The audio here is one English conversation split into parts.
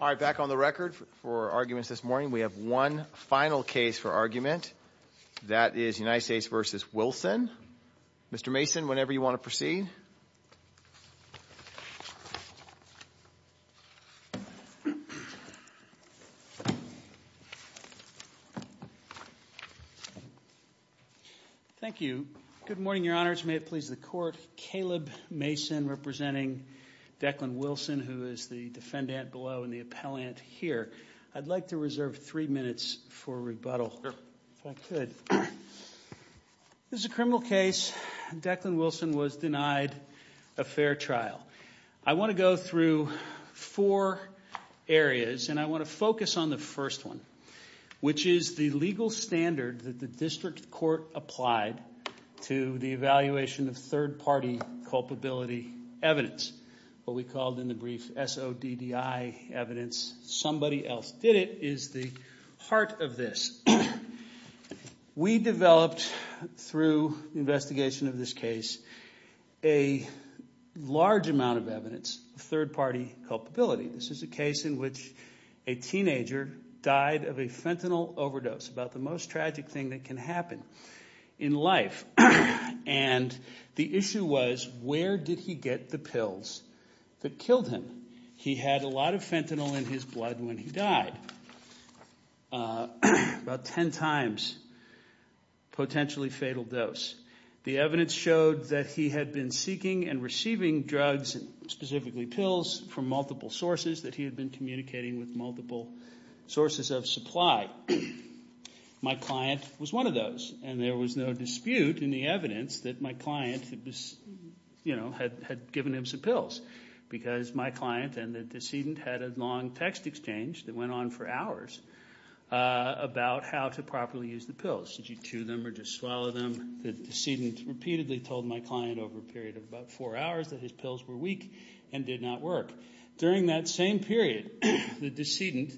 All right, back on the record for arguments this morning. We have one final case for argument. That is United States v. Wilson. Mr. Mason, whenever you want to proceed. Thank you. Good morning, Your Honors. May it please the Court, Caleb Mason representing Declan Wilson, who is the defendant below and the appellant here. I'd like to reserve three minutes for rebuttal, if I could. This is a criminal case. Declan Wilson was denied a fair trial. I want to go through four areas, and I want to focus on the first one, which is the legal standard that the District Court applied to the evaluation of third-party culpability evidence, what we called in the brief SODDI evidence. Somebody else did it is the heart of this. We developed, through the investigation of this case, a large amount of evidence of third-party culpability. This is a case in which a teenager died of a fentanyl overdose, about the most tragic thing that can happen in life. And the issue was, where did he get the pills that killed him? He had a lot of fentanyl in his blood when he died. About ten times potentially fatal dose. The evidence showed that he had been seeking and receiving drugs, specifically pills, from multiple sources, that he had been communicating with multiple sources of supply. My client was one of those, and there was no dispute in the evidence that my client had given him some pills, because my client and the decedent had a long text exchange that went on for hours about how to properly use the pills. Did you chew them or just swallow them? The decedent repeatedly told my client over a period of about four hours that his pills were weak and did not work. During that same period, the decedent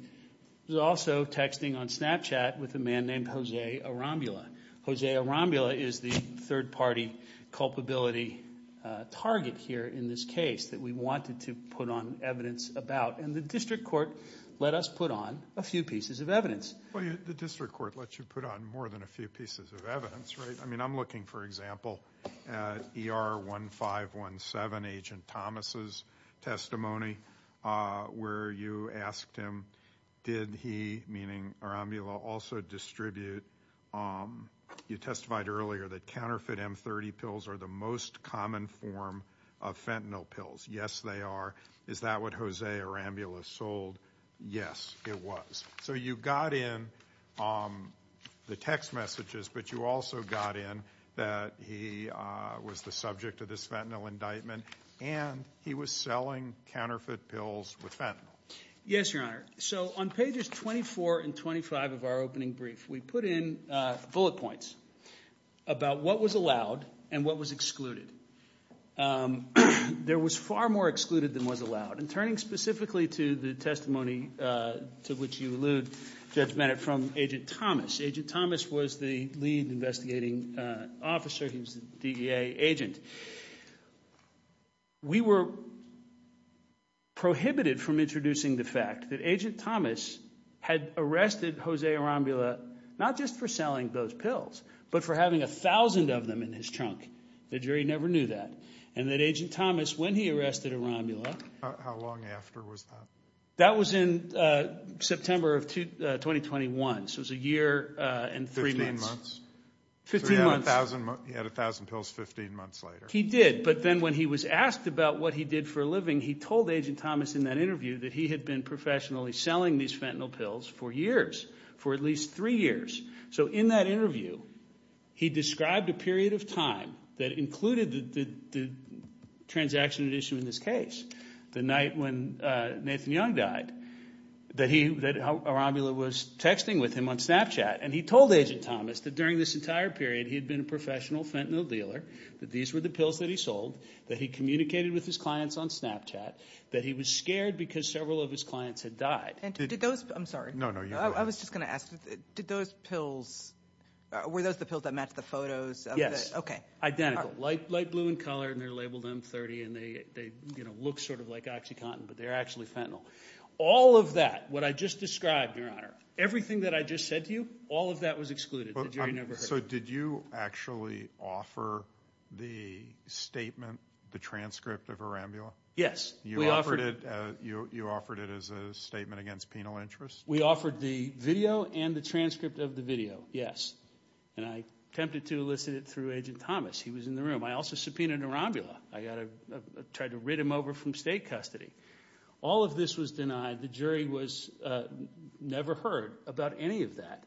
was also texting on Snapchat with a man named Jose Arambula. Jose Arambula is the third-party culpability target here in this case that we wanted to put on evidence about, and the district court let us put on a few pieces of evidence. Well, the district court let you put on more than a few pieces of evidence, right? I mean, I'm looking, for example, at ER 1517, Agent Thomas' testimony, where you asked him, did he, meaning Arambula, also distribute, you testified earlier, that counterfeit M30 pills are the most common form of fentanyl pills. Yes, they are. Is that what Jose Arambula sold? Yes, it was. So you got in the text messages, but you also got in that he was the subject of this fentanyl indictment, and he was selling counterfeit pills with fentanyl. Yes, Your Honor. So on pages 24 and 25 of our opening brief, we put in bullet points about what was allowed and what was excluded. There was far more excluded than was allowed, and turning specifically to the testimony to which you allude, Judge Bennett, from Agent Thomas. Agent Thomas was the lead investigating officer. He was the DEA agent. We were prohibited from introducing the fact that Agent Thomas had arrested Jose Arambula not just for selling those pills, but for having 1,000 of them in his trunk. The jury never knew that. And that Agent Thomas, when he arrested Arambula... How long after was that? That was in September of 2021. So it was a year and three months. Fifteen months. So he had 1,000 pills 15 months later. He did, but then when he was asked about what he did for a living, he told Agent Thomas in that interview that he had been professionally selling these fentanyl pills for years, for at least three years. So in that interview, he described a period of time that included the transaction issue in this case. The night when Nathan Young died, that Arambula was texting with him on Snapchat. And he told Agent Thomas that during this entire period he had been a professional fentanyl dealer, that these were the pills that he sold, that he communicated with his clients on Snapchat, that he was scared because several of his clients had died. Were those the pills that matched the photos? Yes. Identical. Light blue in color, and they're labeled M30, and they look sort of like OxyContin, but they're actually fentanyl. All of that, what I just described, Your Honor, everything that I just said to you, all of that was excluded. So did you actually offer the statement, the transcript of Arambula? Yes. You offered it as a statement against penal interest? We offered the video and the transcript of the video, yes. And I attempted to elicit it through Agent Thomas. He was in the room. I also subpoenaed Arambula. I tried to rid him over from state custody. All of this was denied. The jury never heard about any of that.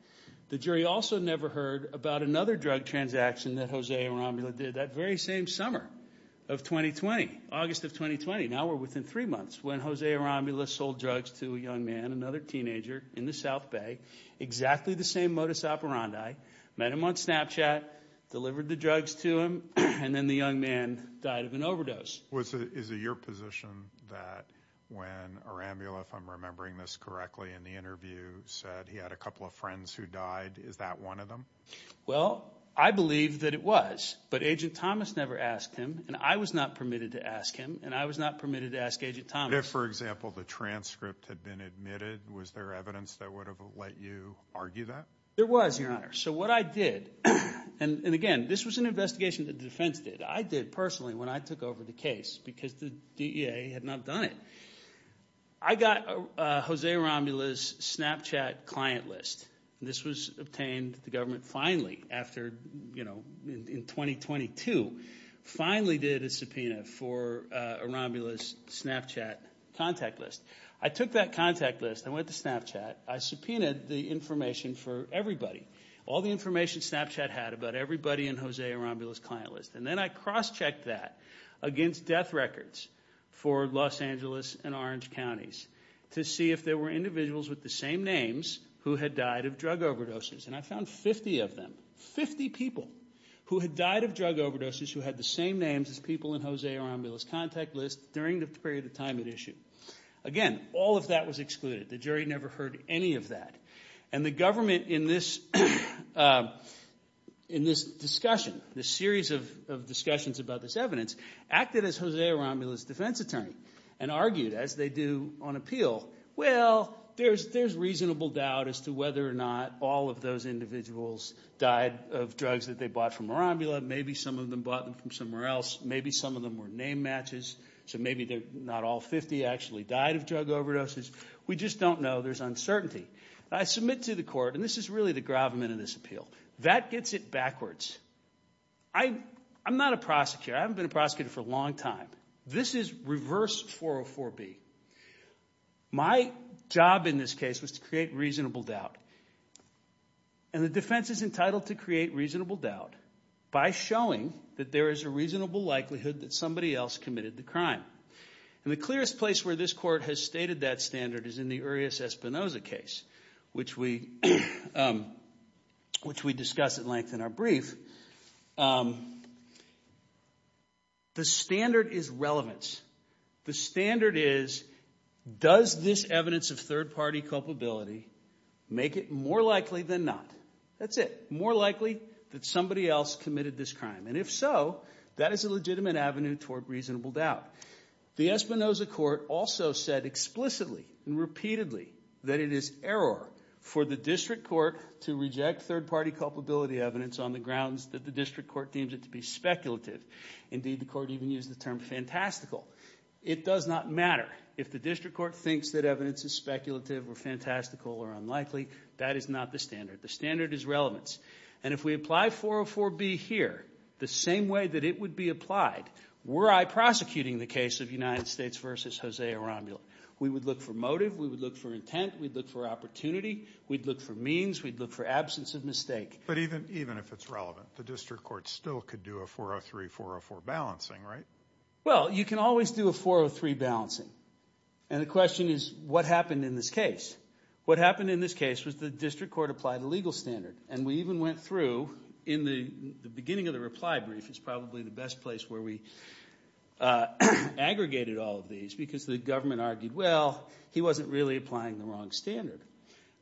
The jury also never heard about another drug transaction that Jose Arambula did that very same summer of 2020, August of 2020, now we're within three months, when Jose Arambula sold drugs to a young man, another teenager in the South Bay, exactly the same modus operandi, met him on Snapchat, delivered the drugs to him, and then the young man died of an overdose. Is it your position that when Arambula, if I'm remembering this correctly in the interview, said he had a couple of friends who died, is that one of them? Well, I believe that it was, but Agent Thomas never asked him, and I was not permitted to ask him, and I was not permitted to ask Agent Thomas. If, for example, the transcript had been admitted, was there evidence that would have let you argue that? There was, Your Honor. So what I did, and again, this was an investigation that the defense did. I did personally when I took over the case because the DEA had not done it. I got Jose Arambula's Snapchat client list. This was obtained, the government finally, after, you know, in 2022, finally did a subpoena for Arambula's Snapchat contact list. I took that contact list, I went to Snapchat, I subpoenaed the information for everybody, all the information Snapchat had about everybody in Jose Arambula's client list, and then I cross-checked that against death records for Los Angeles and Orange counties to see if there were individuals with the same names who had died of drug overdoses. And I found 50 of them, 50 people who had died of drug overdoses who had the same names as people in Jose Arambula's contact list during the period of time at issue. Again, all of that was excluded. The jury never heard any of that. And the government in this discussion, this series of discussions about this evidence, acted as Jose Arambula's defense attorney and argued, as they do on appeal, well, there's reasonable doubt as to whether or not all of those individuals died of drugs that they bought from Arambula. Maybe some of them bought them from somewhere else. Maybe some of them were name matches, so maybe not all 50 actually died of drug overdoses. We just don't know. There's uncertainty. I submit to the court, and this is really the gravamen of this appeal, that gets it backwards. I'm not a prosecutor. I haven't been a prosecutor for a long time. This is reverse 404B. My job in this case was to create reasonable doubt, and the defense is entitled to create reasonable doubt by showing that there is a reasonable likelihood that somebody else committed the crime. And the clearest place where this court has stated that standard is in the Urias-Espinoza case, which we discuss at length in our brief, the standard is relevance. The standard is, does this evidence of third-party culpability make it more likely than not? That's it. More likely that somebody else committed this crime, and if so, that is a legitimate avenue toward reasonable doubt. The Espinoza court also said explicitly and repeatedly that it is error for the district court to reject third-party culpability evidence on the grounds that the district court deems it to be speculative. Indeed, the court even used the term fantastical. It does not matter if the district court thinks that evidence is speculative or fantastical or unlikely. That is not the standard. The standard is relevance. And if we apply 404B here, the same way that it would be applied, were I prosecuting the case of United States v. Jose Arambula, we would look for motive, we would look for intent, we'd look for opportunity, we'd look for means, we'd look for absence of mistake. But even if it's relevant, the district court still could do a 403-404 balancing, right? Well, you can always do a 403 balancing. And the question is, what happened in this case? What happened in this case was the district court applied a legal standard. And we even went through, in the beginning of the reply brief, it's probably the best place where we aggregated all of these, because the government argued, well, he wasn't really applying the wrong standard.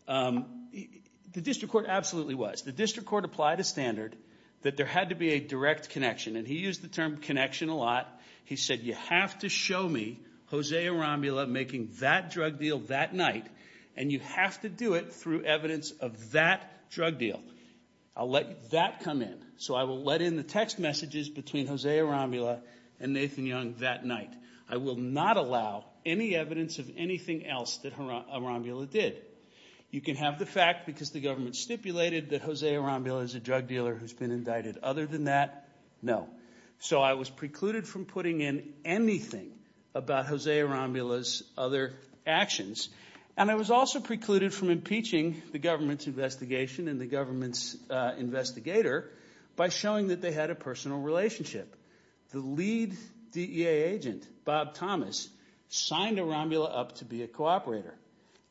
The district court absolutely was. The district court applied a standard that there had to be a direct connection. And he used the term connection a lot. He said, you have to show me Jose Arambula making that drug deal that night, and you have to do it through evidence of that drug deal. I'll let that come in. So I will let in the text messages between Jose Arambula and Nathan Young that night. I will not allow any evidence of anything else that Arambula did. You can have the fact, because the government stipulated, that Jose Arambula is a drug dealer who's been indicted. Other than that, no. So I was precluded from putting in anything about Jose Arambula's other actions. And I was also precluded from impeaching the government's investigation and the government's investigator by showing that they had a personal relationship. The lead DEA agent, Bob Thomas, signed Arambula up to be a cooperator.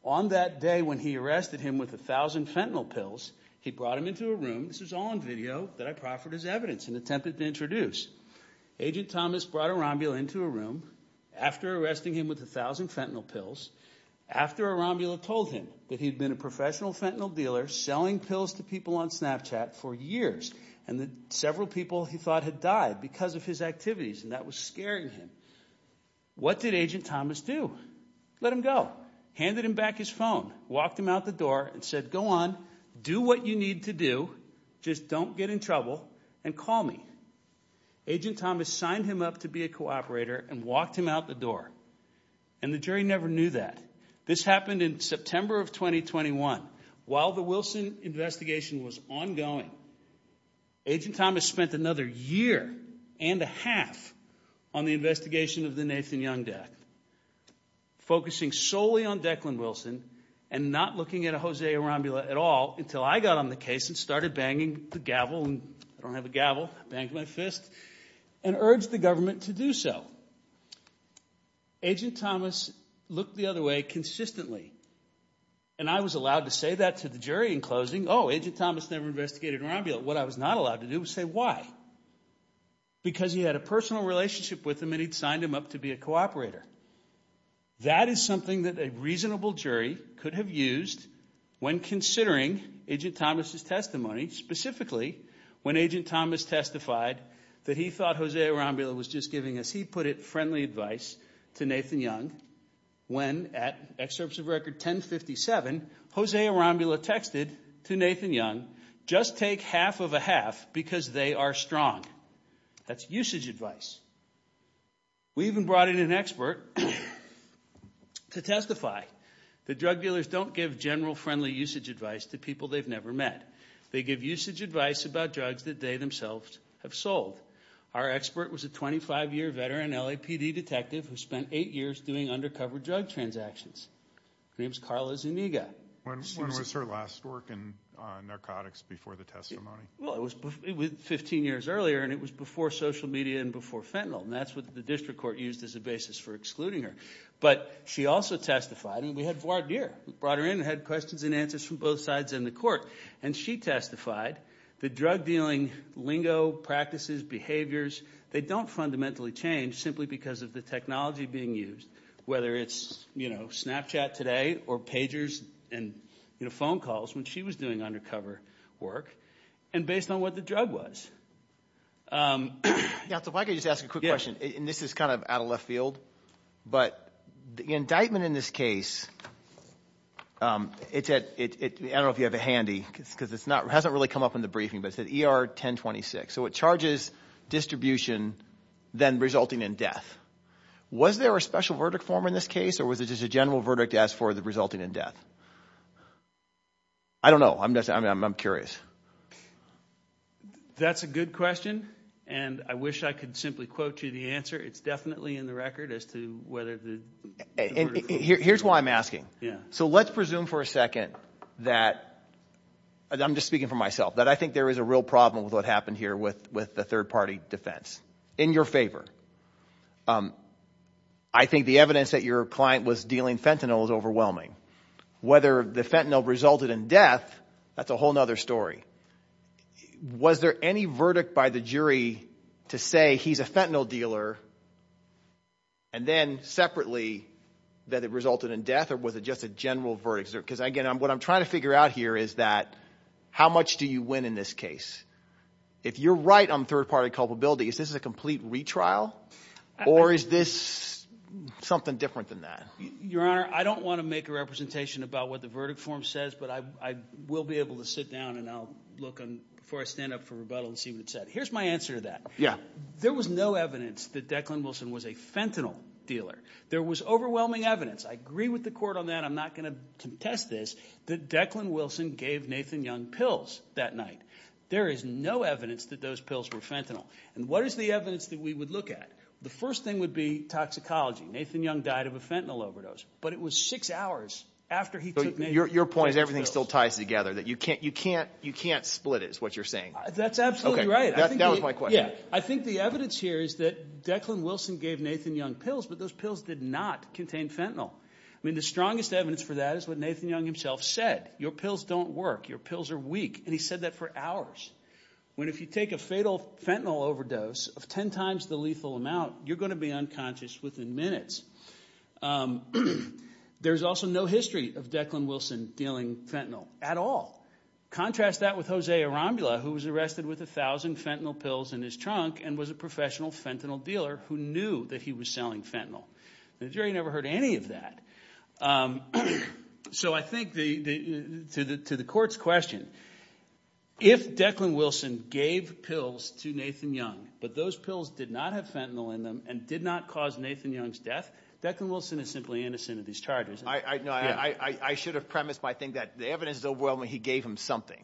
On that day when he arrested him with 1,000 fentanyl pills, he brought him into a room. This is all on video that I proffered as evidence in an attempt to introduce. Agent Thomas brought Arambula into a room after arresting him with 1,000 fentanyl pills, after Arambula told him that he'd been a professional fentanyl dealer selling pills to people on Snapchat for years, and that several people he thought had died because of his activities, and that was scaring him. What did Agent Thomas do? Let him go. Handed him back his phone, walked him out the door, and said, go on, do what you need to do, just don't get in trouble, and call me. Agent Thomas signed him up to be a cooperator and walked him out the door. The jury never knew that. This happened in September of 2021. While the Wilson investigation was ongoing, Agent Thomas spent another year and a half on the investigation of the Nathan Young death, focusing solely on Declan Wilson and not looking at Jose Arambula at all until I got on the case and started banging the gavel, and I don't have a gavel, I banged my fist, and urged the government to do so. Agent Thomas looked the other way consistently, and I was allowed to say that to the jury in closing, oh, Agent Thomas never investigated Arambula. What I was not allowed to do was say, why? Because he had a personal relationship with him and he'd signed him up to be a cooperator. That is something that a reasonable jury could have used when considering Agent Thomas' testimony, specifically when Agent Thomas testified that he thought Jose Arambula was just giving us, he put it, friendly advice to Nathan Young, when at Excerpts of Record 1057, Jose Arambula texted to Nathan Young, just take half of a half because they are strong. That's usage advice. We even brought in an expert to testify that drug dealers don't give general friendly usage advice to people they've never met. They give usage advice about drugs that they themselves have sold. Our expert was a 25-year veteran LAPD detective who spent eight years doing undercover drug transactions. Her name is Carla Zuniga. When was her last work in narcotics before the testimony? Well, it was 15 years earlier, and it was before social media and before fentanyl, and that's what the district court used as a basis for excluding her. But she also testified, and we had Voiradier, who brought her in and had questions and answers from both sides in the court, and she testified that drug-dealing lingo, practices, behaviors, they don't fundamentally change simply because of the technology being used, whether it's Snapchat today or pagers and phone calls when she was doing undercover work, and based on what the drug was. So if I could just ask a quick question, and this is kind of out of left field, but the indictment in this case, I don't know if you have it handy, because it hasn't really come up in the briefing, but it's at ER 1026. So it charges distribution, then resulting in death. Was there a special verdict form in this case, or was it just a general verdict as for the resulting in death? I don't know. I'm curious. That's a good question, and I wish I could simply quote you the answer. It's definitely in the record as to whether the court approved it. Here's why I'm asking. So let's presume for a second that, and I'm just speaking for myself, that I think there is a real problem with what happened here with the third-party defense. In your favor, I think the evidence that your client was dealing fentanyl is overwhelming. Whether the fentanyl resulted in death, that's a whole other story. Was there any verdict by the jury to say he's a fentanyl dealer, and then separately that it resulted in death, or was it just a general verdict? Because, again, what I'm trying to figure out here is that how much do you win in this case? If you're right on third-party culpability, is this a complete retrial, or is this something different than that? Your Honor, I don't want to make a representation about what the verdict form says, but I will be able to sit down and I'll look before I stand up for rebuttal and see what it said. Here's my answer to that. There was no evidence that Declan Wilson was a fentanyl dealer. There was overwhelming evidence. I agree with the court on that. I'm not going to contest this, that Declan Wilson gave Nathan Young pills that night. There is no evidence that those pills were fentanyl. And what is the evidence that we would look at? The first thing would be toxicology. Nathan Young died of a fentanyl overdose. But it was six hours after he took Nathan Young pills. Your point is everything still ties together, that you can't split it is what you're saying. That's absolutely right. That was my question. I think the evidence here is that Declan Wilson gave Nathan Young pills, but those pills did not contain fentanyl. I mean the strongest evidence for that is what Nathan Young himself said. Your pills don't work. Your pills are weak. And he said that for hours. When if you take a fatal fentanyl overdose of ten times the lethal amount, you're going to be unconscious within minutes. There's also no history of Declan Wilson dealing fentanyl at all. Contrast that with Jose Arambula who was arrested with a thousand fentanyl pills in his trunk and was a professional fentanyl dealer who knew that he was selling fentanyl. The jury never heard any of that. So I think to the court's question, if Declan Wilson gave pills to Nathan Young, but those pills did not have fentanyl in them and did not cause Nathan Young's death, Declan Wilson is simply innocent of these charges. I should have premised my thing that the evidence is overwhelming. He gave him something.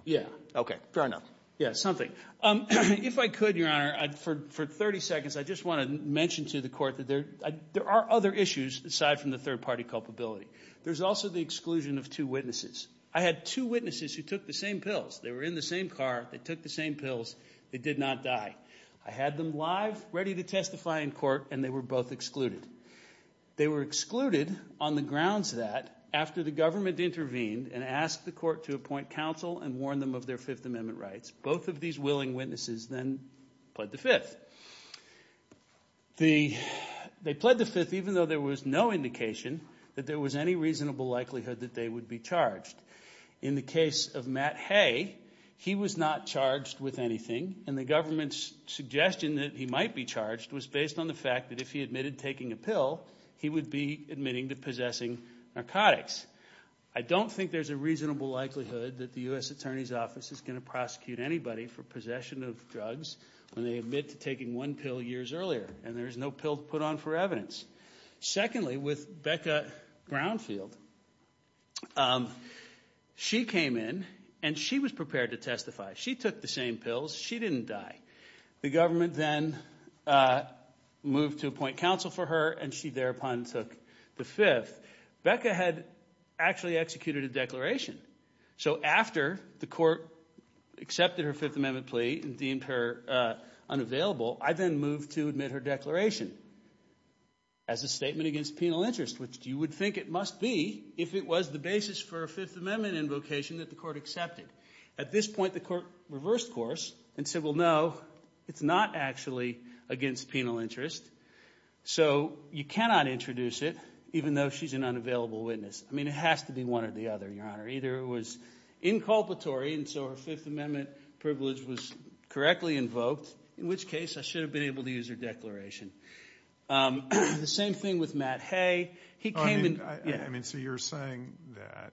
Okay, fair enough. Yeah, something. If I could, Your Honor, for 30 seconds, I just want to mention to the court that there are other issues aside from the third-party culpability. There's also the exclusion of two witnesses. I had two witnesses who took the same pills. They were in the same car. They took the same pills. They did not die. I had them live, ready to testify in court, and they were both excluded. They were excluded on the grounds that after the government intervened and asked the court to appoint counsel and warn them of their Fifth Amendment rights, both of these willing witnesses then pled the Fifth. They pled the Fifth even though there was no indication that there was any reasonable likelihood that they would be charged. In the case of Matt Hay, he was not charged with anything, and the government's suggestion that he might be charged was based on the fact that if he admitted taking a pill, he would be admitting to possessing narcotics. I don't think there's a reasonable likelihood that the U.S. Attorney's Office is going to prosecute anybody for possession of drugs when they admit to taking one pill years earlier, and there is no pill to put on for evidence. Secondly, with Becca Brownfield, she came in, and she was prepared to testify. She took the same pills. She didn't die. The government then moved to appoint counsel for her, and she thereupon took the Fifth. Becca had actually executed a declaration. So after the court accepted her Fifth Amendment plea and deemed her unavailable, I then moved to admit her declaration as a statement against penal interest, which you would think it must be if it was the basis for a Fifth Amendment invocation that the court accepted. At this point, the court reversed course and said, well, no, it's not actually against penal interest. So you cannot introduce it even though she's an unavailable witness. I mean it has to be one or the other, Your Honor. Either it was inculpatory and so her Fifth Amendment privilege was correctly invoked, in which case I should have been able to use her declaration. The same thing with Matt Hay. I mean, so you're saying that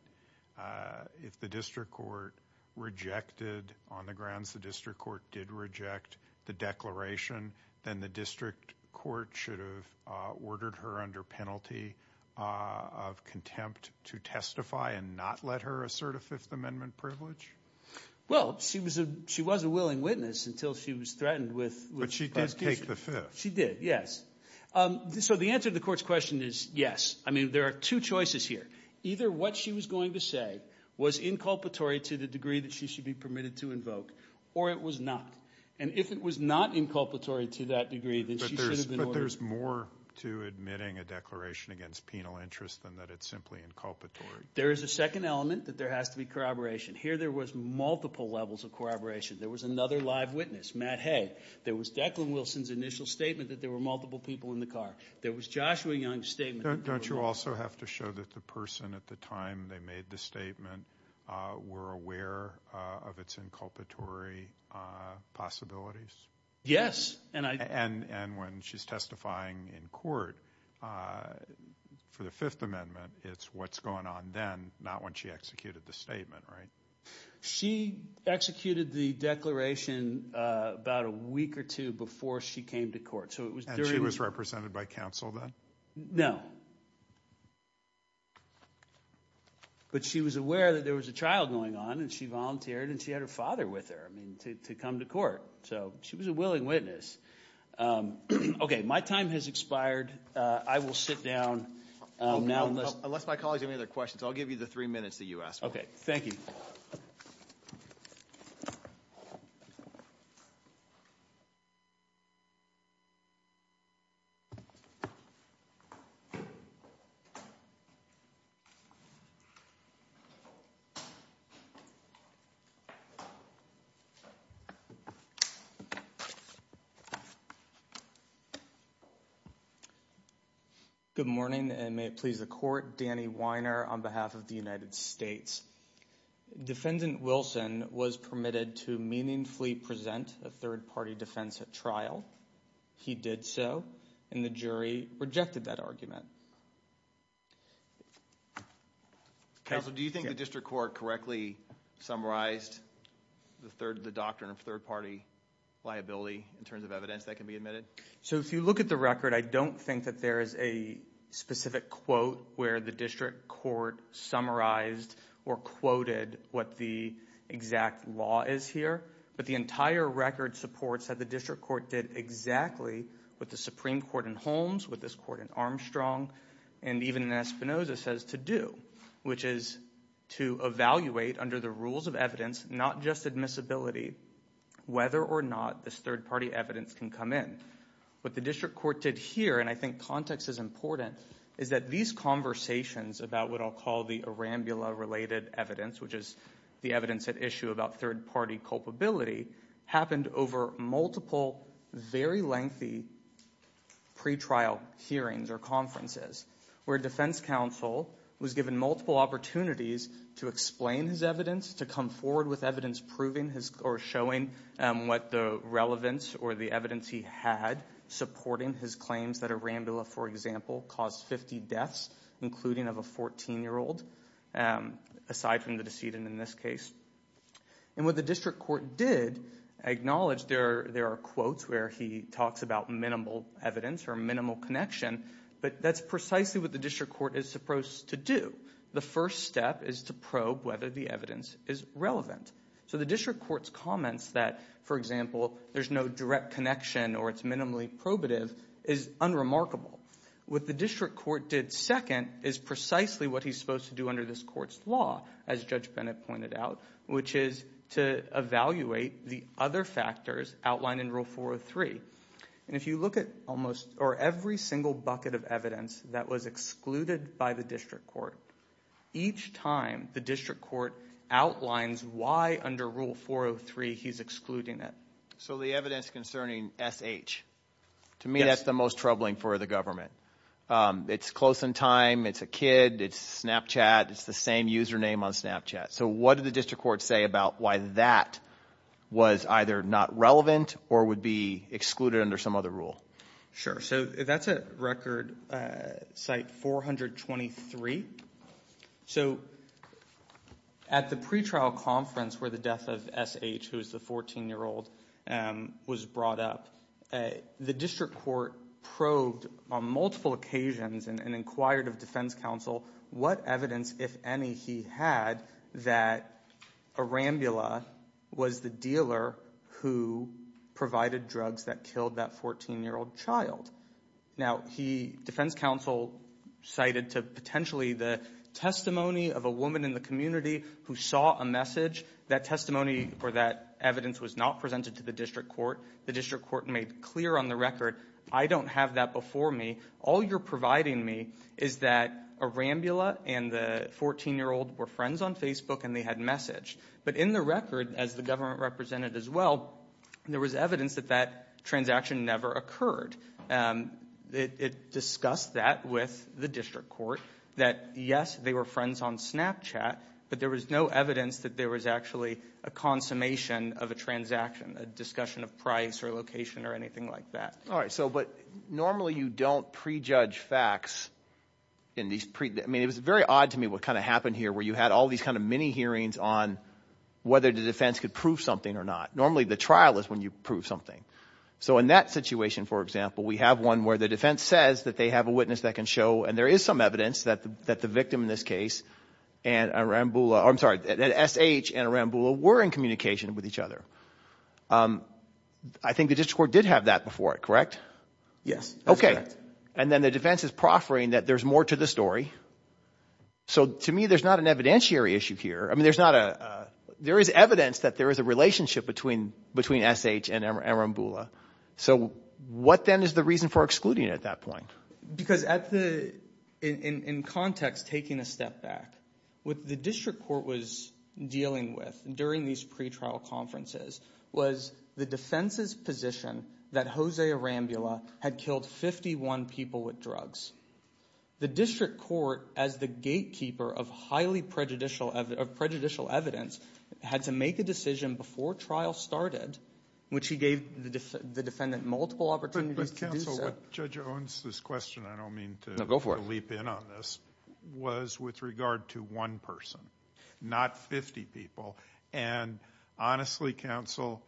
if the district court rejected on the grounds the district court did reject the declaration, then the district court should have ordered her under penalty of contempt to testify and not let her assert a Fifth Amendment privilege? Well, she was a willing witness until she was threatened with prosecution. But she did take the Fifth. She did, yes. So the answer to the court's question is yes. I mean there are two choices here. Either what she was going to say was inculpatory to the degree that she should be permitted to invoke, or it was not. And if it was not inculpatory to that degree, then she should have been ordered. But there's more to admitting a declaration against penal interest than that it's simply inculpatory. There is a second element that there has to be corroboration. Here there was multiple levels of corroboration. There was another live witness, Matt Hay. There was Declan Wilson's initial statement that there were multiple people in the car. There was Joshua Young's statement. Don't you also have to show that the person at the time they made the statement were aware of its inculpatory possibilities? Yes. And when she's testifying in court for the Fifth Amendment, it's what's going on then, not when she executed the statement, right? She executed the declaration about a week or two before she came to court. And she was represented by counsel then? No. But she was aware that there was a child going on, and she volunteered, and she had her father with her to come to court. So she was a willing witness. Okay, my time has expired. I will sit down now. Unless my colleagues have any other questions, I'll give you the three minutes that you asked for. Okay, thank you. Thank you. Good morning, and may it please the court. Danny Weiner on behalf of the United States. Defendant Wilson was permitted to meaningfully present a third-party defense at trial. He did so, and the jury rejected that argument. Counsel, do you think the district court correctly summarized the doctrine of third-party liability in terms of evidence that can be admitted? So if you look at the record, I don't think that there is a specific quote where the district court summarized or quoted what the exact law is here. But the entire record supports that the district court did exactly what the Supreme Court in Holmes, what this court in Armstrong, and even in Espinoza says to do, which is to evaluate under the rules of evidence, not just admissibility, whether or not this third-party evidence can come in. What the district court did here, and I think context is important, is that these conversations about what I'll call the Arambula-related evidence, which is the evidence at issue about third-party culpability, happened over multiple, very lengthy pretrial hearings or conferences, where defense counsel was given multiple opportunities to explain his evidence, to come forward with evidence proving or showing what the relevance or the evidence he had supporting his claims that Arambula, for example, caused 50 deaths, including of a 14-year-old, aside from the decedent in this case. And what the district court did acknowledge, there are quotes where he talks about minimal evidence or minimal connection, but that's precisely what the district court is supposed to do. The first step is to probe whether the evidence is relevant. So the district court's comments that, for example, there's no direct connection or it's minimally probative is unremarkable. What the district court did second is precisely what he's supposed to do under this court's law, as Judge Bennett pointed out, which is to evaluate the other factors outlined in Rule 403. And if you look at almost or every single bucket of evidence that was excluded by the district court, each time the district court outlines why under Rule 403 he's excluding it. So the evidence concerning SH, to me that's the most troubling for the government. It's close in time. It's a kid. It's Snapchat. It's the same username on Snapchat. So what did the district court say about why that was either not relevant or would be excluded under some other rule? Sure. So that's at Record Site 423. So at the pretrial conference where the death of SH, who is the 14-year-old, was brought up, the district court probed on multiple occasions and inquired of defense counsel what evidence, if any, he had that Arambula was the dealer who provided drugs that killed that 14-year-old child. Now, defense counsel cited potentially the testimony of a woman in the community who saw a message. That testimony or that evidence was not presented to the district court. The district court made clear on the record, I don't have that before me. All you're providing me is that Arambula and the 14-year-old were friends on Facebook and they had messaged. But in the record, as the government represented as well, there was evidence that that transaction never occurred. It discussed that with the district court, that, yes, they were friends on Snapchat, but there was no evidence that there was actually a consummation of a transaction, a discussion of price or location or anything like that. All right. But normally you don't prejudge facts. I mean, it was very odd to me what kind of happened here, where you had all these kind of mini hearings on whether the defense could prove something or not. Normally the trial is when you prove something. So in that situation, for example, we have one where the defense says that they have a witness that can show, and there is some evidence that the victim in this case and Arambula – I'm sorry, SH and Arambula were in communication with each other. I think the district court did have that before, correct? Yes, that's correct. And then the defense is proffering that there's more to the story. So to me there's not an evidentiary issue here. I mean, there's not a – there is evidence that there is a relationship between SH and Arambula. So what then is the reason for excluding it at that point? Because at the – in context, taking a step back, what the district court was dealing with during these pretrial conferences was the defense's position that Jose Arambula had killed 51 people with drugs. The district court, as the gatekeeper of highly prejudicial – of prejudicial evidence, had to make a decision before trial started, which he gave the defendant multiple opportunities to do so. So what Judge Owens' question – I don't mean to leap in on this – was with regard to one person, not 50 people. And honestly, counsel,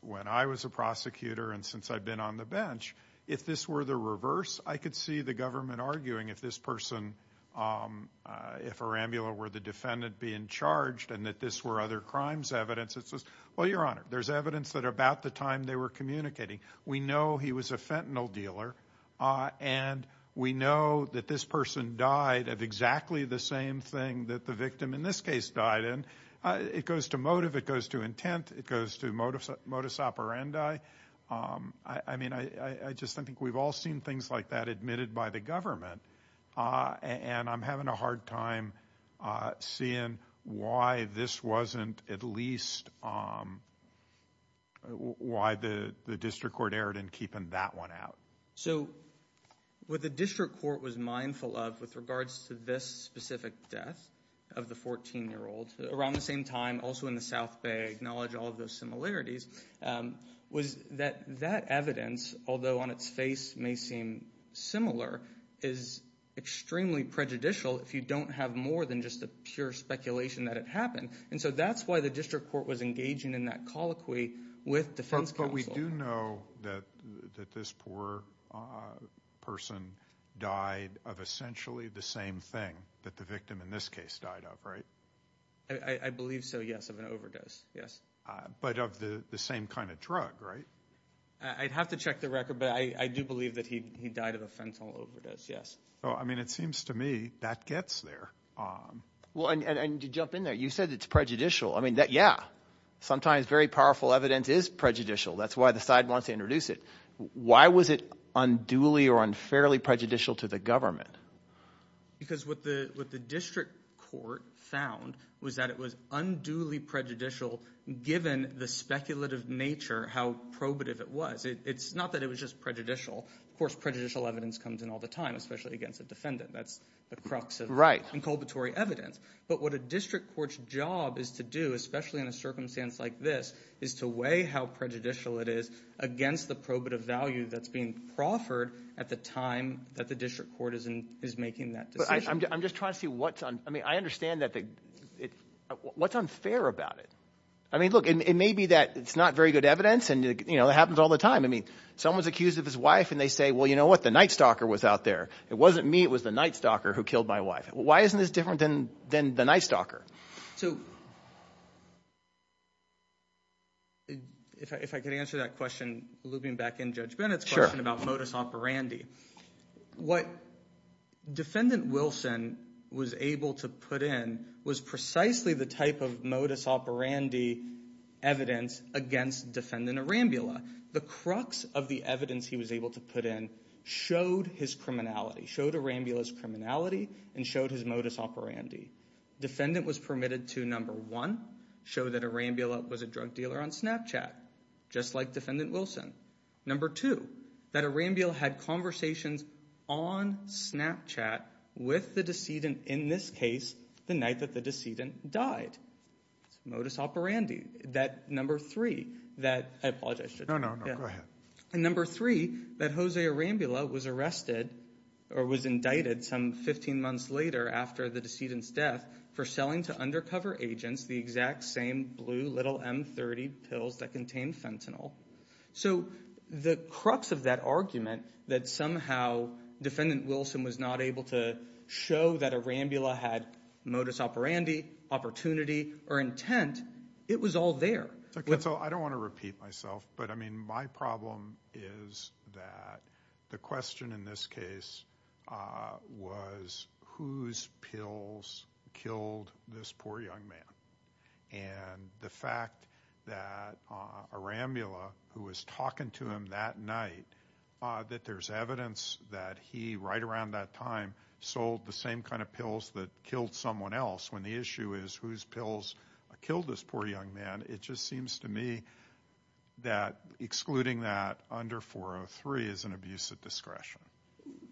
when I was a prosecutor and since I've been on the bench, if this were the reverse, I could see the government arguing if this person – if Arambula were the defendant being charged and that this were other crimes evidence. It's just, well, Your Honor, there's evidence that about the time they were communicating, we know he was a fentanyl dealer, and we know that this person died of exactly the same thing that the victim in this case died in. It goes to motive, it goes to intent, it goes to modus operandi. I mean, I just think we've all seen things like that admitted by the government, and I'm having a hard time seeing why this wasn't at least – why the district court erred in keeping that one out. So what the district court was mindful of with regards to this specific death of the 14-year-old, around the same time, also in the South Bay, acknowledge all of those similarities, was that that evidence, although on its face may seem similar, is extremely prejudicial if you don't have more than just the pure speculation that it happened. And so that's why the district court was engaging in that colloquy with defense counsel. But we do know that this poor person died of essentially the same thing that the victim in this case died of, right? I believe so, yes, of an overdose, yes. But of the same kind of drug, right? I'd have to check the record, but I do believe that he died of a fentanyl overdose, yes. Well, I mean, it seems to me that gets there. Well, and to jump in there, you said it's prejudicial. I mean, yeah, sometimes very powerful evidence is prejudicial. That's why the side wants to introduce it. Why was it unduly or unfairly prejudicial to the government? Because what the district court found was that it was unduly prejudicial given the speculative nature how probative it was. It's not that it was just prejudicial. Of course, prejudicial evidence comes in all the time, especially against a defendant. That's the crux of inculpatory evidence. But what a district court's job is to do, especially in a circumstance like this, is to weigh how prejudicial it is against the probative value that's being proffered at the time that the district court is making that decision. I'm just trying to see what's unfair about it. I mean, look, it may be that it's not very good evidence, and it happens all the time. I mean someone's accused of his wife, and they say, well, you know what? The night stalker was out there. It wasn't me. It was the night stalker who killed my wife. Why isn't this different than the night stalker? So if I could answer that question looping back in Judge Bennett's question about modus operandi. What Defendant Wilson was able to put in was precisely the type of modus operandi evidence against Defendant Arambula. The crux of the evidence he was able to put in showed his criminality, showed Arambula's criminality, and showed his modus operandi. Defendant was permitted to, number one, show that Arambula was a drug dealer on Snapchat, just like Defendant Wilson. Number two, that Arambula had conversations on Snapchat with the decedent, in this case, the night that the decedent died. It's a modus operandi. That number three, that I apologize, Judge Bennett. No, no, no, go ahead. And number three, that Jose Arambula was arrested or was indicted some 15 months later after the decedent's death for selling to undercover agents the exact same blue little M30 pills that contained fentanyl. So the crux of that argument that somehow Defendant Wilson was not able to show that Arambula had modus operandi, opportunity, or intent, it was all there. I don't want to repeat myself, but my problem is that the question in this case was whose pills killed this poor young man. And the fact that Arambula, who was talking to him that night, that there's evidence that he, right around that time, sold the same kind of pills that killed someone else, when the issue is whose pills killed this poor young man, it just seems to me that excluding that under 403 is an abuse of discretion.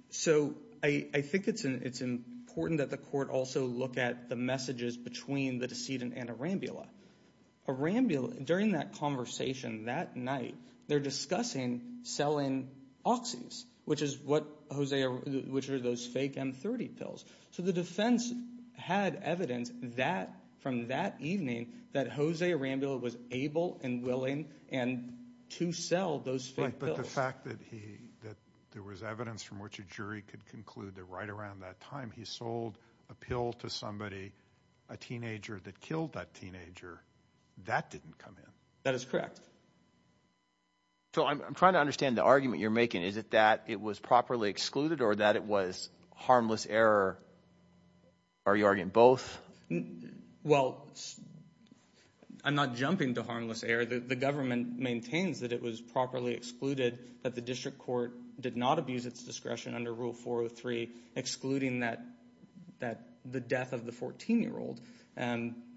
So I think it's important that the court also look at the messages between the decedent and Arambula. Arambula, during that conversation that night, they're discussing selling auxes, which are those fake M30 pills. So the defense had evidence from that evening that Jose Arambula was able and willing to sell those fake pills. But the fact that there was evidence from which a jury could conclude that right around that time he sold a pill to somebody, a teenager, that killed that teenager, that didn't come in. That is correct. So I'm trying to understand the argument you're making. Is it that it was properly excluded or that it was harmless error? Are you arguing both? Well, I'm not jumping to harmless error. The government maintains that it was properly excluded, that the district court did not abuse its discretion under Rule 403, excluding the death of the 14-year-old,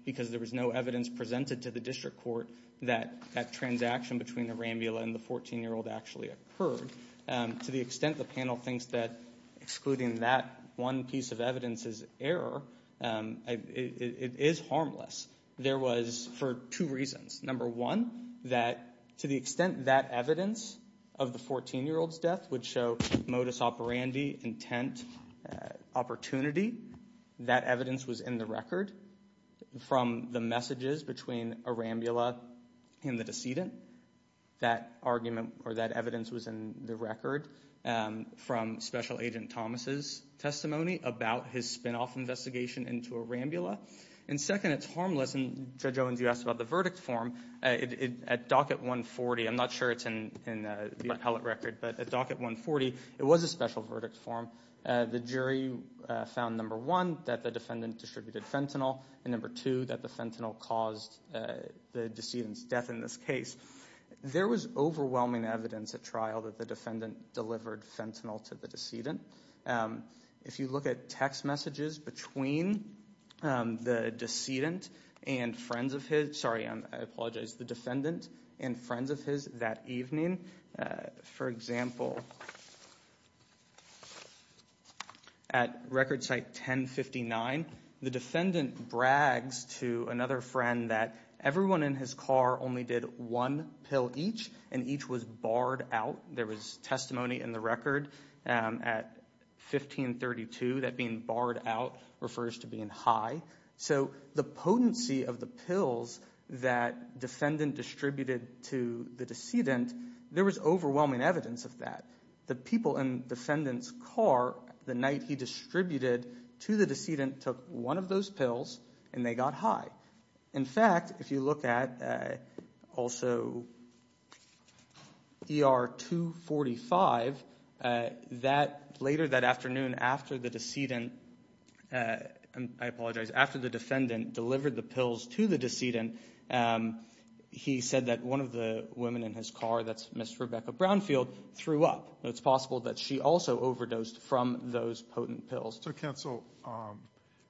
because there was no evidence presented to the district court that that transaction between Arambula and the 14-year-old actually occurred. To the extent the panel thinks that excluding that one piece of evidence is error, it is harmless. There was for two reasons. Number one, that to the extent that evidence of the 14-year-old's death would show modus operandi, intent, opportunity, that evidence was in the record from the messages between Arambula and the decedent. That argument or that evidence was in the record from Special Agent Thomas' testimony about his spinoff investigation into Arambula. And second, it's harmless. And Judge Owens, you asked about the verdict form. At docket 140, I'm not sure it's in the appellate record, but at docket 140, it was a special verdict form. The jury found, number one, that the defendant distributed fentanyl, and number two, that the fentanyl caused the decedent's death in this case. There was overwhelming evidence at trial that the defendant delivered fentanyl to the decedent. If you look at text messages between the decedent and friends of his, sorry, I apologize, the defendant and friends of his that evening, for example, at record site 1059, the defendant brags to another friend that everyone in his car only did one pill each, and each was barred out. There was testimony in the record at 1532 that being barred out refers to being high. So the potency of the pills that defendant distributed to the decedent, there was overwhelming evidence of that. The people in defendant's car the night he distributed to the decedent took one of those pills, and they got high. In fact, if you look at also ER 245, later that afternoon after the decedent, I apologize, after the defendant delivered the pills to the decedent, he said that one of the women in his car, that's Ms. Rebecca Brownfield, threw up. It's possible that she also overdosed from those potent pills. So counsel,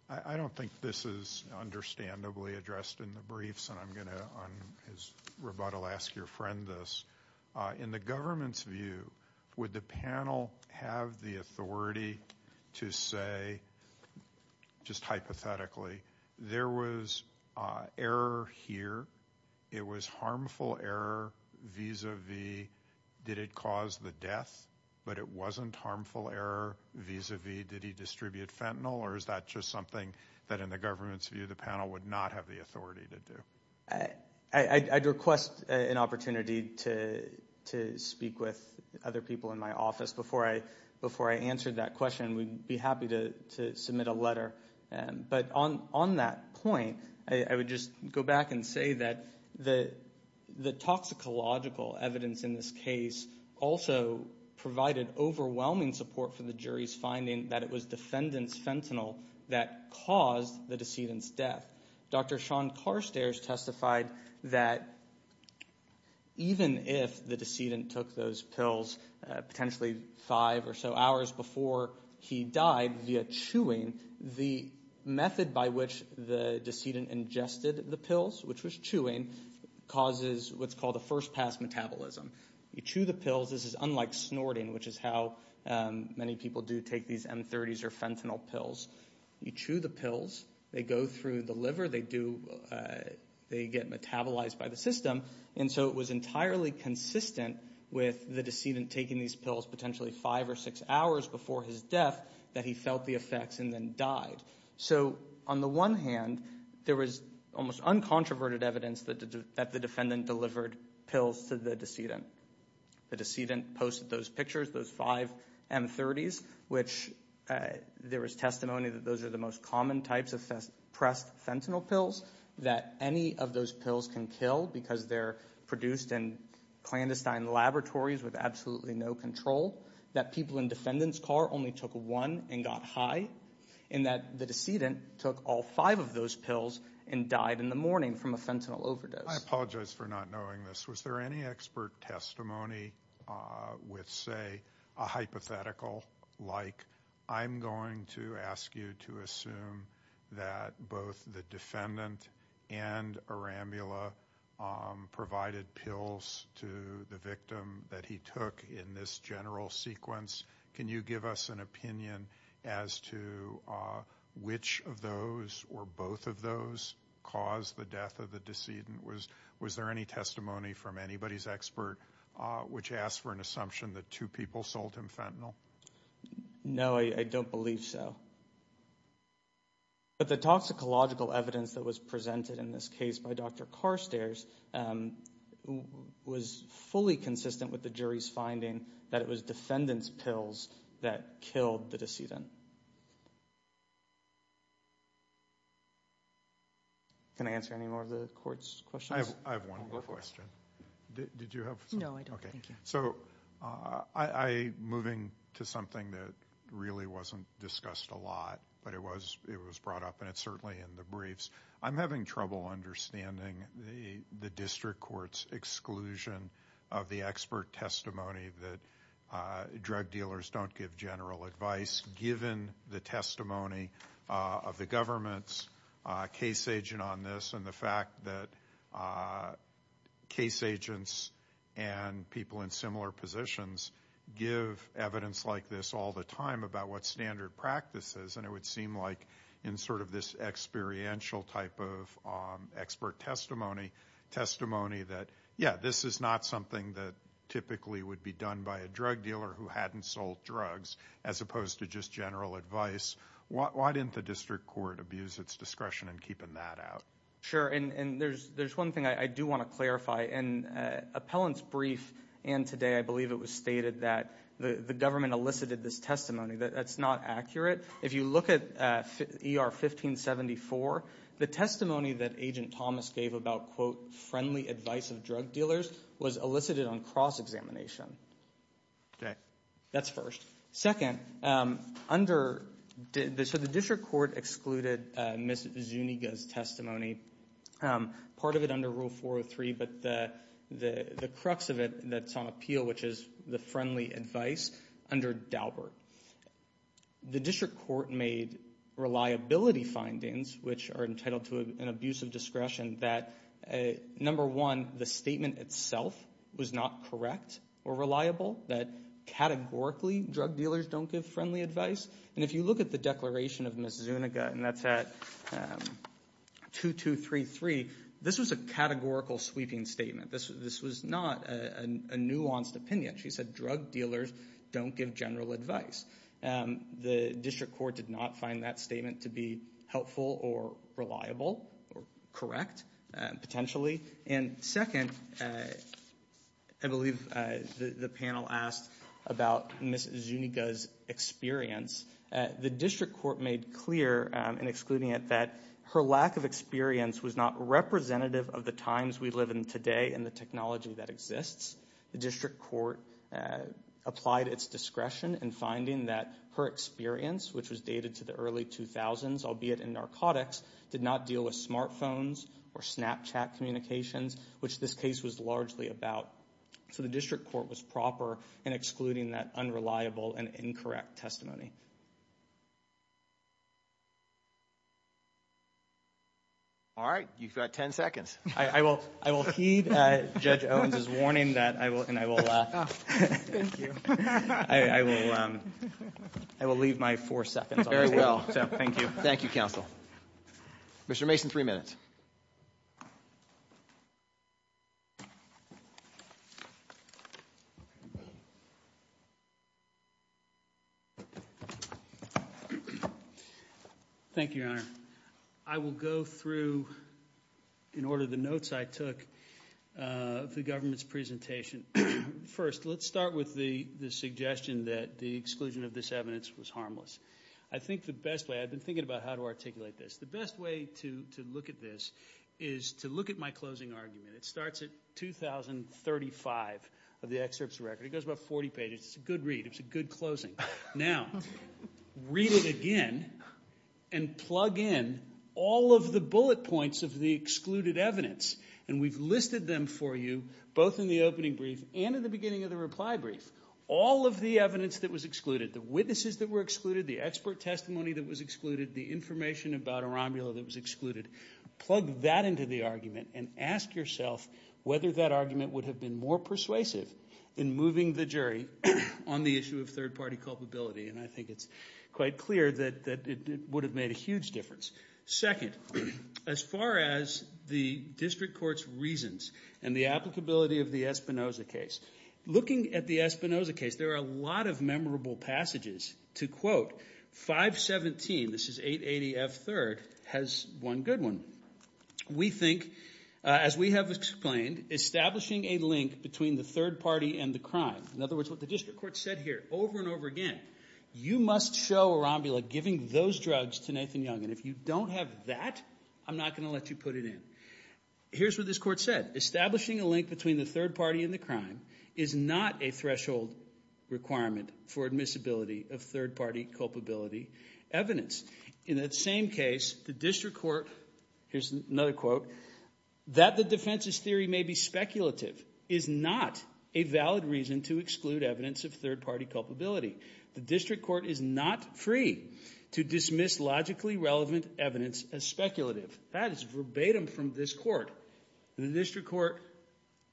I don't think this is understandably addressed in the briefs, and I'm going to, on his rebuttal, ask your friend this. In the government's view, would the panel have the authority to say, just hypothetically, there was error here, it was harmful error vis-a-vis did it cause the death, but it wasn't harmful error vis-a-vis did he distribute fentanyl, or is that just something that in the government's view the panel would not have the authority to do? I'd request an opportunity to speak with other people in my office before I answer that question. We'd be happy to submit a letter. But on that point, I would just go back and say that the toxicological evidence in this case also provided overwhelming support for the jury's finding that it was defendant's fentanyl that caused the decedent's death. Dr. Sean Carstairs testified that even if the decedent took those pills potentially five or so hours before he died via chewing, the method by which the decedent ingested the pills, which was chewing, causes what's called a first-pass metabolism. You chew the pills. This is unlike snorting, which is how many people do take these M30s or fentanyl pills. You chew the pills. They go through the liver. They get metabolized by the system. And so it was entirely consistent with the decedent taking these pills potentially five or six hours before his death that he felt the effects and then died. So on the one hand, there was almost uncontroverted evidence that the defendant delivered pills to the decedent. The decedent posted those pictures, those five M30s, which there was testimony that those are the most common types of pressed fentanyl pills, that any of those pills can kill because they're produced in clandestine laboratories with absolutely no control, that people in defendant's car only took one and got high, and that the decedent took all five of those pills and died in the morning from a fentanyl overdose. I apologize for not knowing this. Was there any expert testimony with, say, a hypothetical like, I'm going to ask you to assume that both the defendant and Arambula provided pills to the victim that he took in this general sequence? Can you give us an opinion as to which of those or both of those caused the death of the decedent? Was there any testimony from anybody's expert which asked for an assumption that two people sold him fentanyl? No, I don't believe so. But the toxicological evidence that was presented in this case by Dr. Carstairs was fully consistent with the jury's finding that it was defendant's pills that killed the decedent. Thank you. Can I answer any more of the court's questions? I have one more question. Did you have something? No, I don't, thank you. So moving to something that really wasn't discussed a lot, but it was brought up, and it's certainly in the briefs, I'm having trouble understanding the district court's exclusion of the expert testimony that drug dealers don't give general advice given the testimony of the government's case agent on this and the fact that case agents and people in similar positions give evidence like this all the time about what standard practice is. And it would seem like in sort of this experiential type of expert testimony, testimony that, yeah, this is not something that typically would be done by a drug dealer who hadn't sold drugs, as opposed to just general advice. Why didn't the district court abuse its discretion in keeping that out? Sure, and there's one thing I do want to clarify. In Appellant's brief, and today I believe it was stated, that the government elicited this testimony. That's not accurate. If you look at ER 1574, the testimony that Agent Thomas gave about, quote, friendly advice of drug dealers was elicited on cross-examination. Okay. That's first. Second, under, so the district court excluded Ms. Zuniga's testimony, part of it under Rule 403, but the crux of it that's on appeal, which is the friendly advice, under Daubert. The district court made reliability findings, which are entitled to an abuse of discretion, that number one, the statement itself was not correct or reliable, that categorically drug dealers don't give friendly advice. And if you look at the declaration of Ms. Zuniga, and that's at 2233, this was a categorical sweeping statement. This was not a nuanced opinion. She said drug dealers don't give general advice. The district court did not find that statement to be helpful or reliable or correct, potentially. And second, I believe the panel asked about Ms. Zuniga's experience. The district court made clear, in excluding it, that her lack of experience was not representative of the times we live in today and the technology that exists. The district court applied its discretion in finding that her experience, which was dated to the early 2000s, albeit in narcotics, did not deal with smartphones or Snapchat communications, which this case was largely about. So the district court was proper in excluding that unreliable and incorrect testimony. All right, you've got ten seconds. I will heed Judge Owens' warning, and I will leave my four seconds on that. Thank you. Thank you, counsel. Mr. Mason, three minutes. Thank you, Your Honor. I will go through, in order of the notes I took, the government's presentation. First, let's start with the suggestion that the exclusion of this evidence was harmless. I think the best way, I've been thinking about how to articulate this. The best way to look at this is to look at my closing argument. It starts at 2035 of the excerpt's record. It goes about 40 pages. It's a good read. It's a good closing. Now, read it again and plug in all of the bullet points of the excluded evidence, and we've listed them for you both in the opening brief and in the beginning of the reply brief. All of the evidence that was excluded, the witnesses that were excluded, the expert testimony that was excluded, the information about Arambula that was excluded, plug that into the argument and ask yourself whether that argument would have been more persuasive in moving the jury on the issue of third-party culpability, and I think it's quite clear that it would have made a huge difference. Second, as far as the district court's reasons and the applicability of the Espinoza case, looking at the Espinoza case, there are a lot of memorable passages to quote. 517, this is 880F3rd, has one good one. We think, as we have explained, establishing a link between the third party and the crime, in other words, what the district court said here over and over again, you must show Arambula giving those drugs to Nathan Young, and if you don't have that, I'm not going to let you put it in. Here's what this court said. Establishing a link between the third party and the crime is not a threshold requirement for admissibility of third-party culpability evidence. In that same case, the district court, here's another quote, that the defense's theory may be speculative is not a valid reason to exclude evidence of third-party culpability. The district court is not free to dismiss logically relevant evidence as speculative. That is verbatim from this court. The district court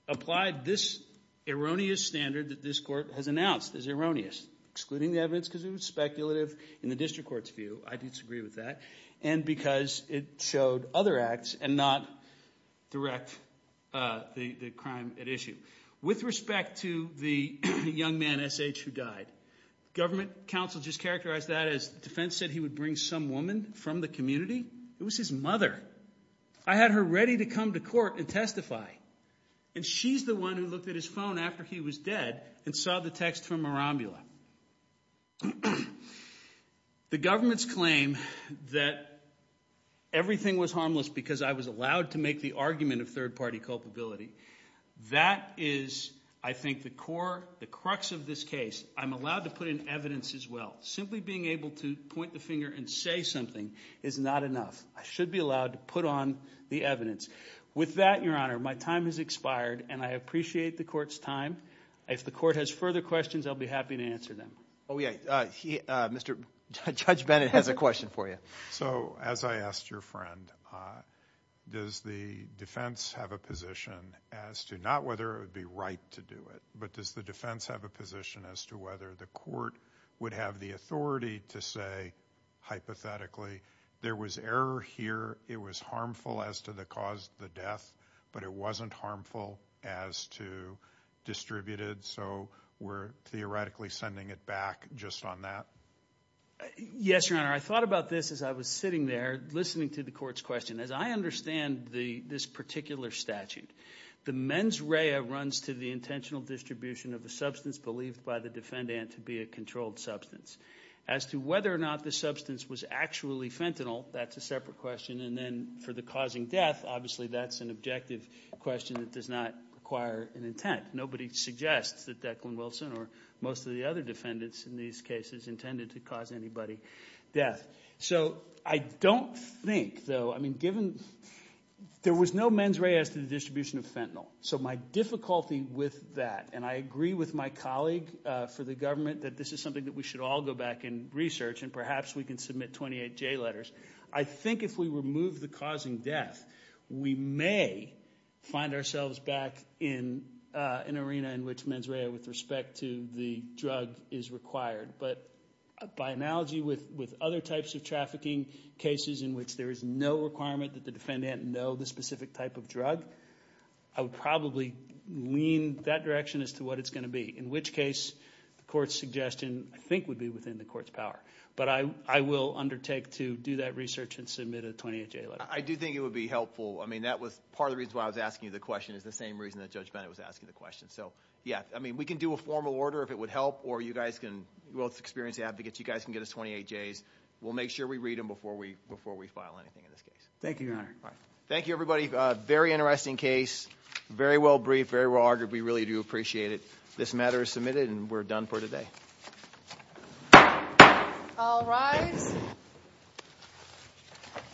applied this erroneous standard that this court has announced as erroneous, excluding the evidence because it was speculative in the district court's view. I disagree with that, and because it showed other acts and not direct the crime at issue. With respect to the young man, S.H., who died, government counsel just characterized that as defense said he would bring some woman from the community. It was his mother. I had her ready to come to court and testify, and she's the one who looked at his phone after he was dead and saw the text from Marambula. The government's claim that everything was harmless because I was allowed to make the argument of third-party culpability, that is, I think, the core, the crux of this case. I'm allowed to put in evidence as well. Simply being able to point the finger and say something is not enough. I should be allowed to put on the evidence. With that, Your Honor, my time has expired, and I appreciate the court's time. If the court has further questions, I'll be happy to answer them. Oh, yeah. Mr. Judge Bennett has a question for you. So as I asked your friend, does the defense have a position as to not whether it would be right to do it, but does the defense have a position as to whether the court would have the authority to say, hypothetically, there was error here, it was harmful as to the cause of the death, but it wasn't harmful as to distributed, so we're theoretically sending it back just on that? Yes, Your Honor. I thought about this as I was sitting there listening to the court's question. As I understand this particular statute, the mens rea runs to the intentional distribution of a substance believed by the defendant to be a controlled substance. As to whether or not the substance was actually fentanyl, that's a separate question, and then for the causing death, obviously that's an objective question that does not require an intent. Nobody suggests that Declan Wilson or most of the other defendants in these cases intended to cause anybody death. So I don't think, though, I mean given there was no mens rea as to the distribution of fentanyl, so my difficulty with that, and I agree with my colleague for the government that this is something that we should all go back and research, and perhaps we can submit 28J letters. I think if we remove the causing death, we may find ourselves back in an arena in which mens rea with respect to the drug is required, but by analogy with other types of trafficking cases in which there is no requirement that the defendant know the specific type of drug, I would probably lean that direction as to what it's going to be, in which case the court's suggestion I think would be within the court's power, but I will undertake to do that research and submit a 28J letter. I do think it would be helpful. I mean that was part of the reason why I was asking you the question is the same reason that Judge Bennett was asking the question. So yeah, I mean we can do a formal order if it would help, or you guys can, well, experienced advocates, you guys can get us 28Js. We'll make sure we read them before we file anything in this case. Thank you, Your Honor. Thank you, everybody. Very interesting case. Very well briefed. Very well argued. We really do appreciate it. This matter is submitted, and we're done for today. I'll rise.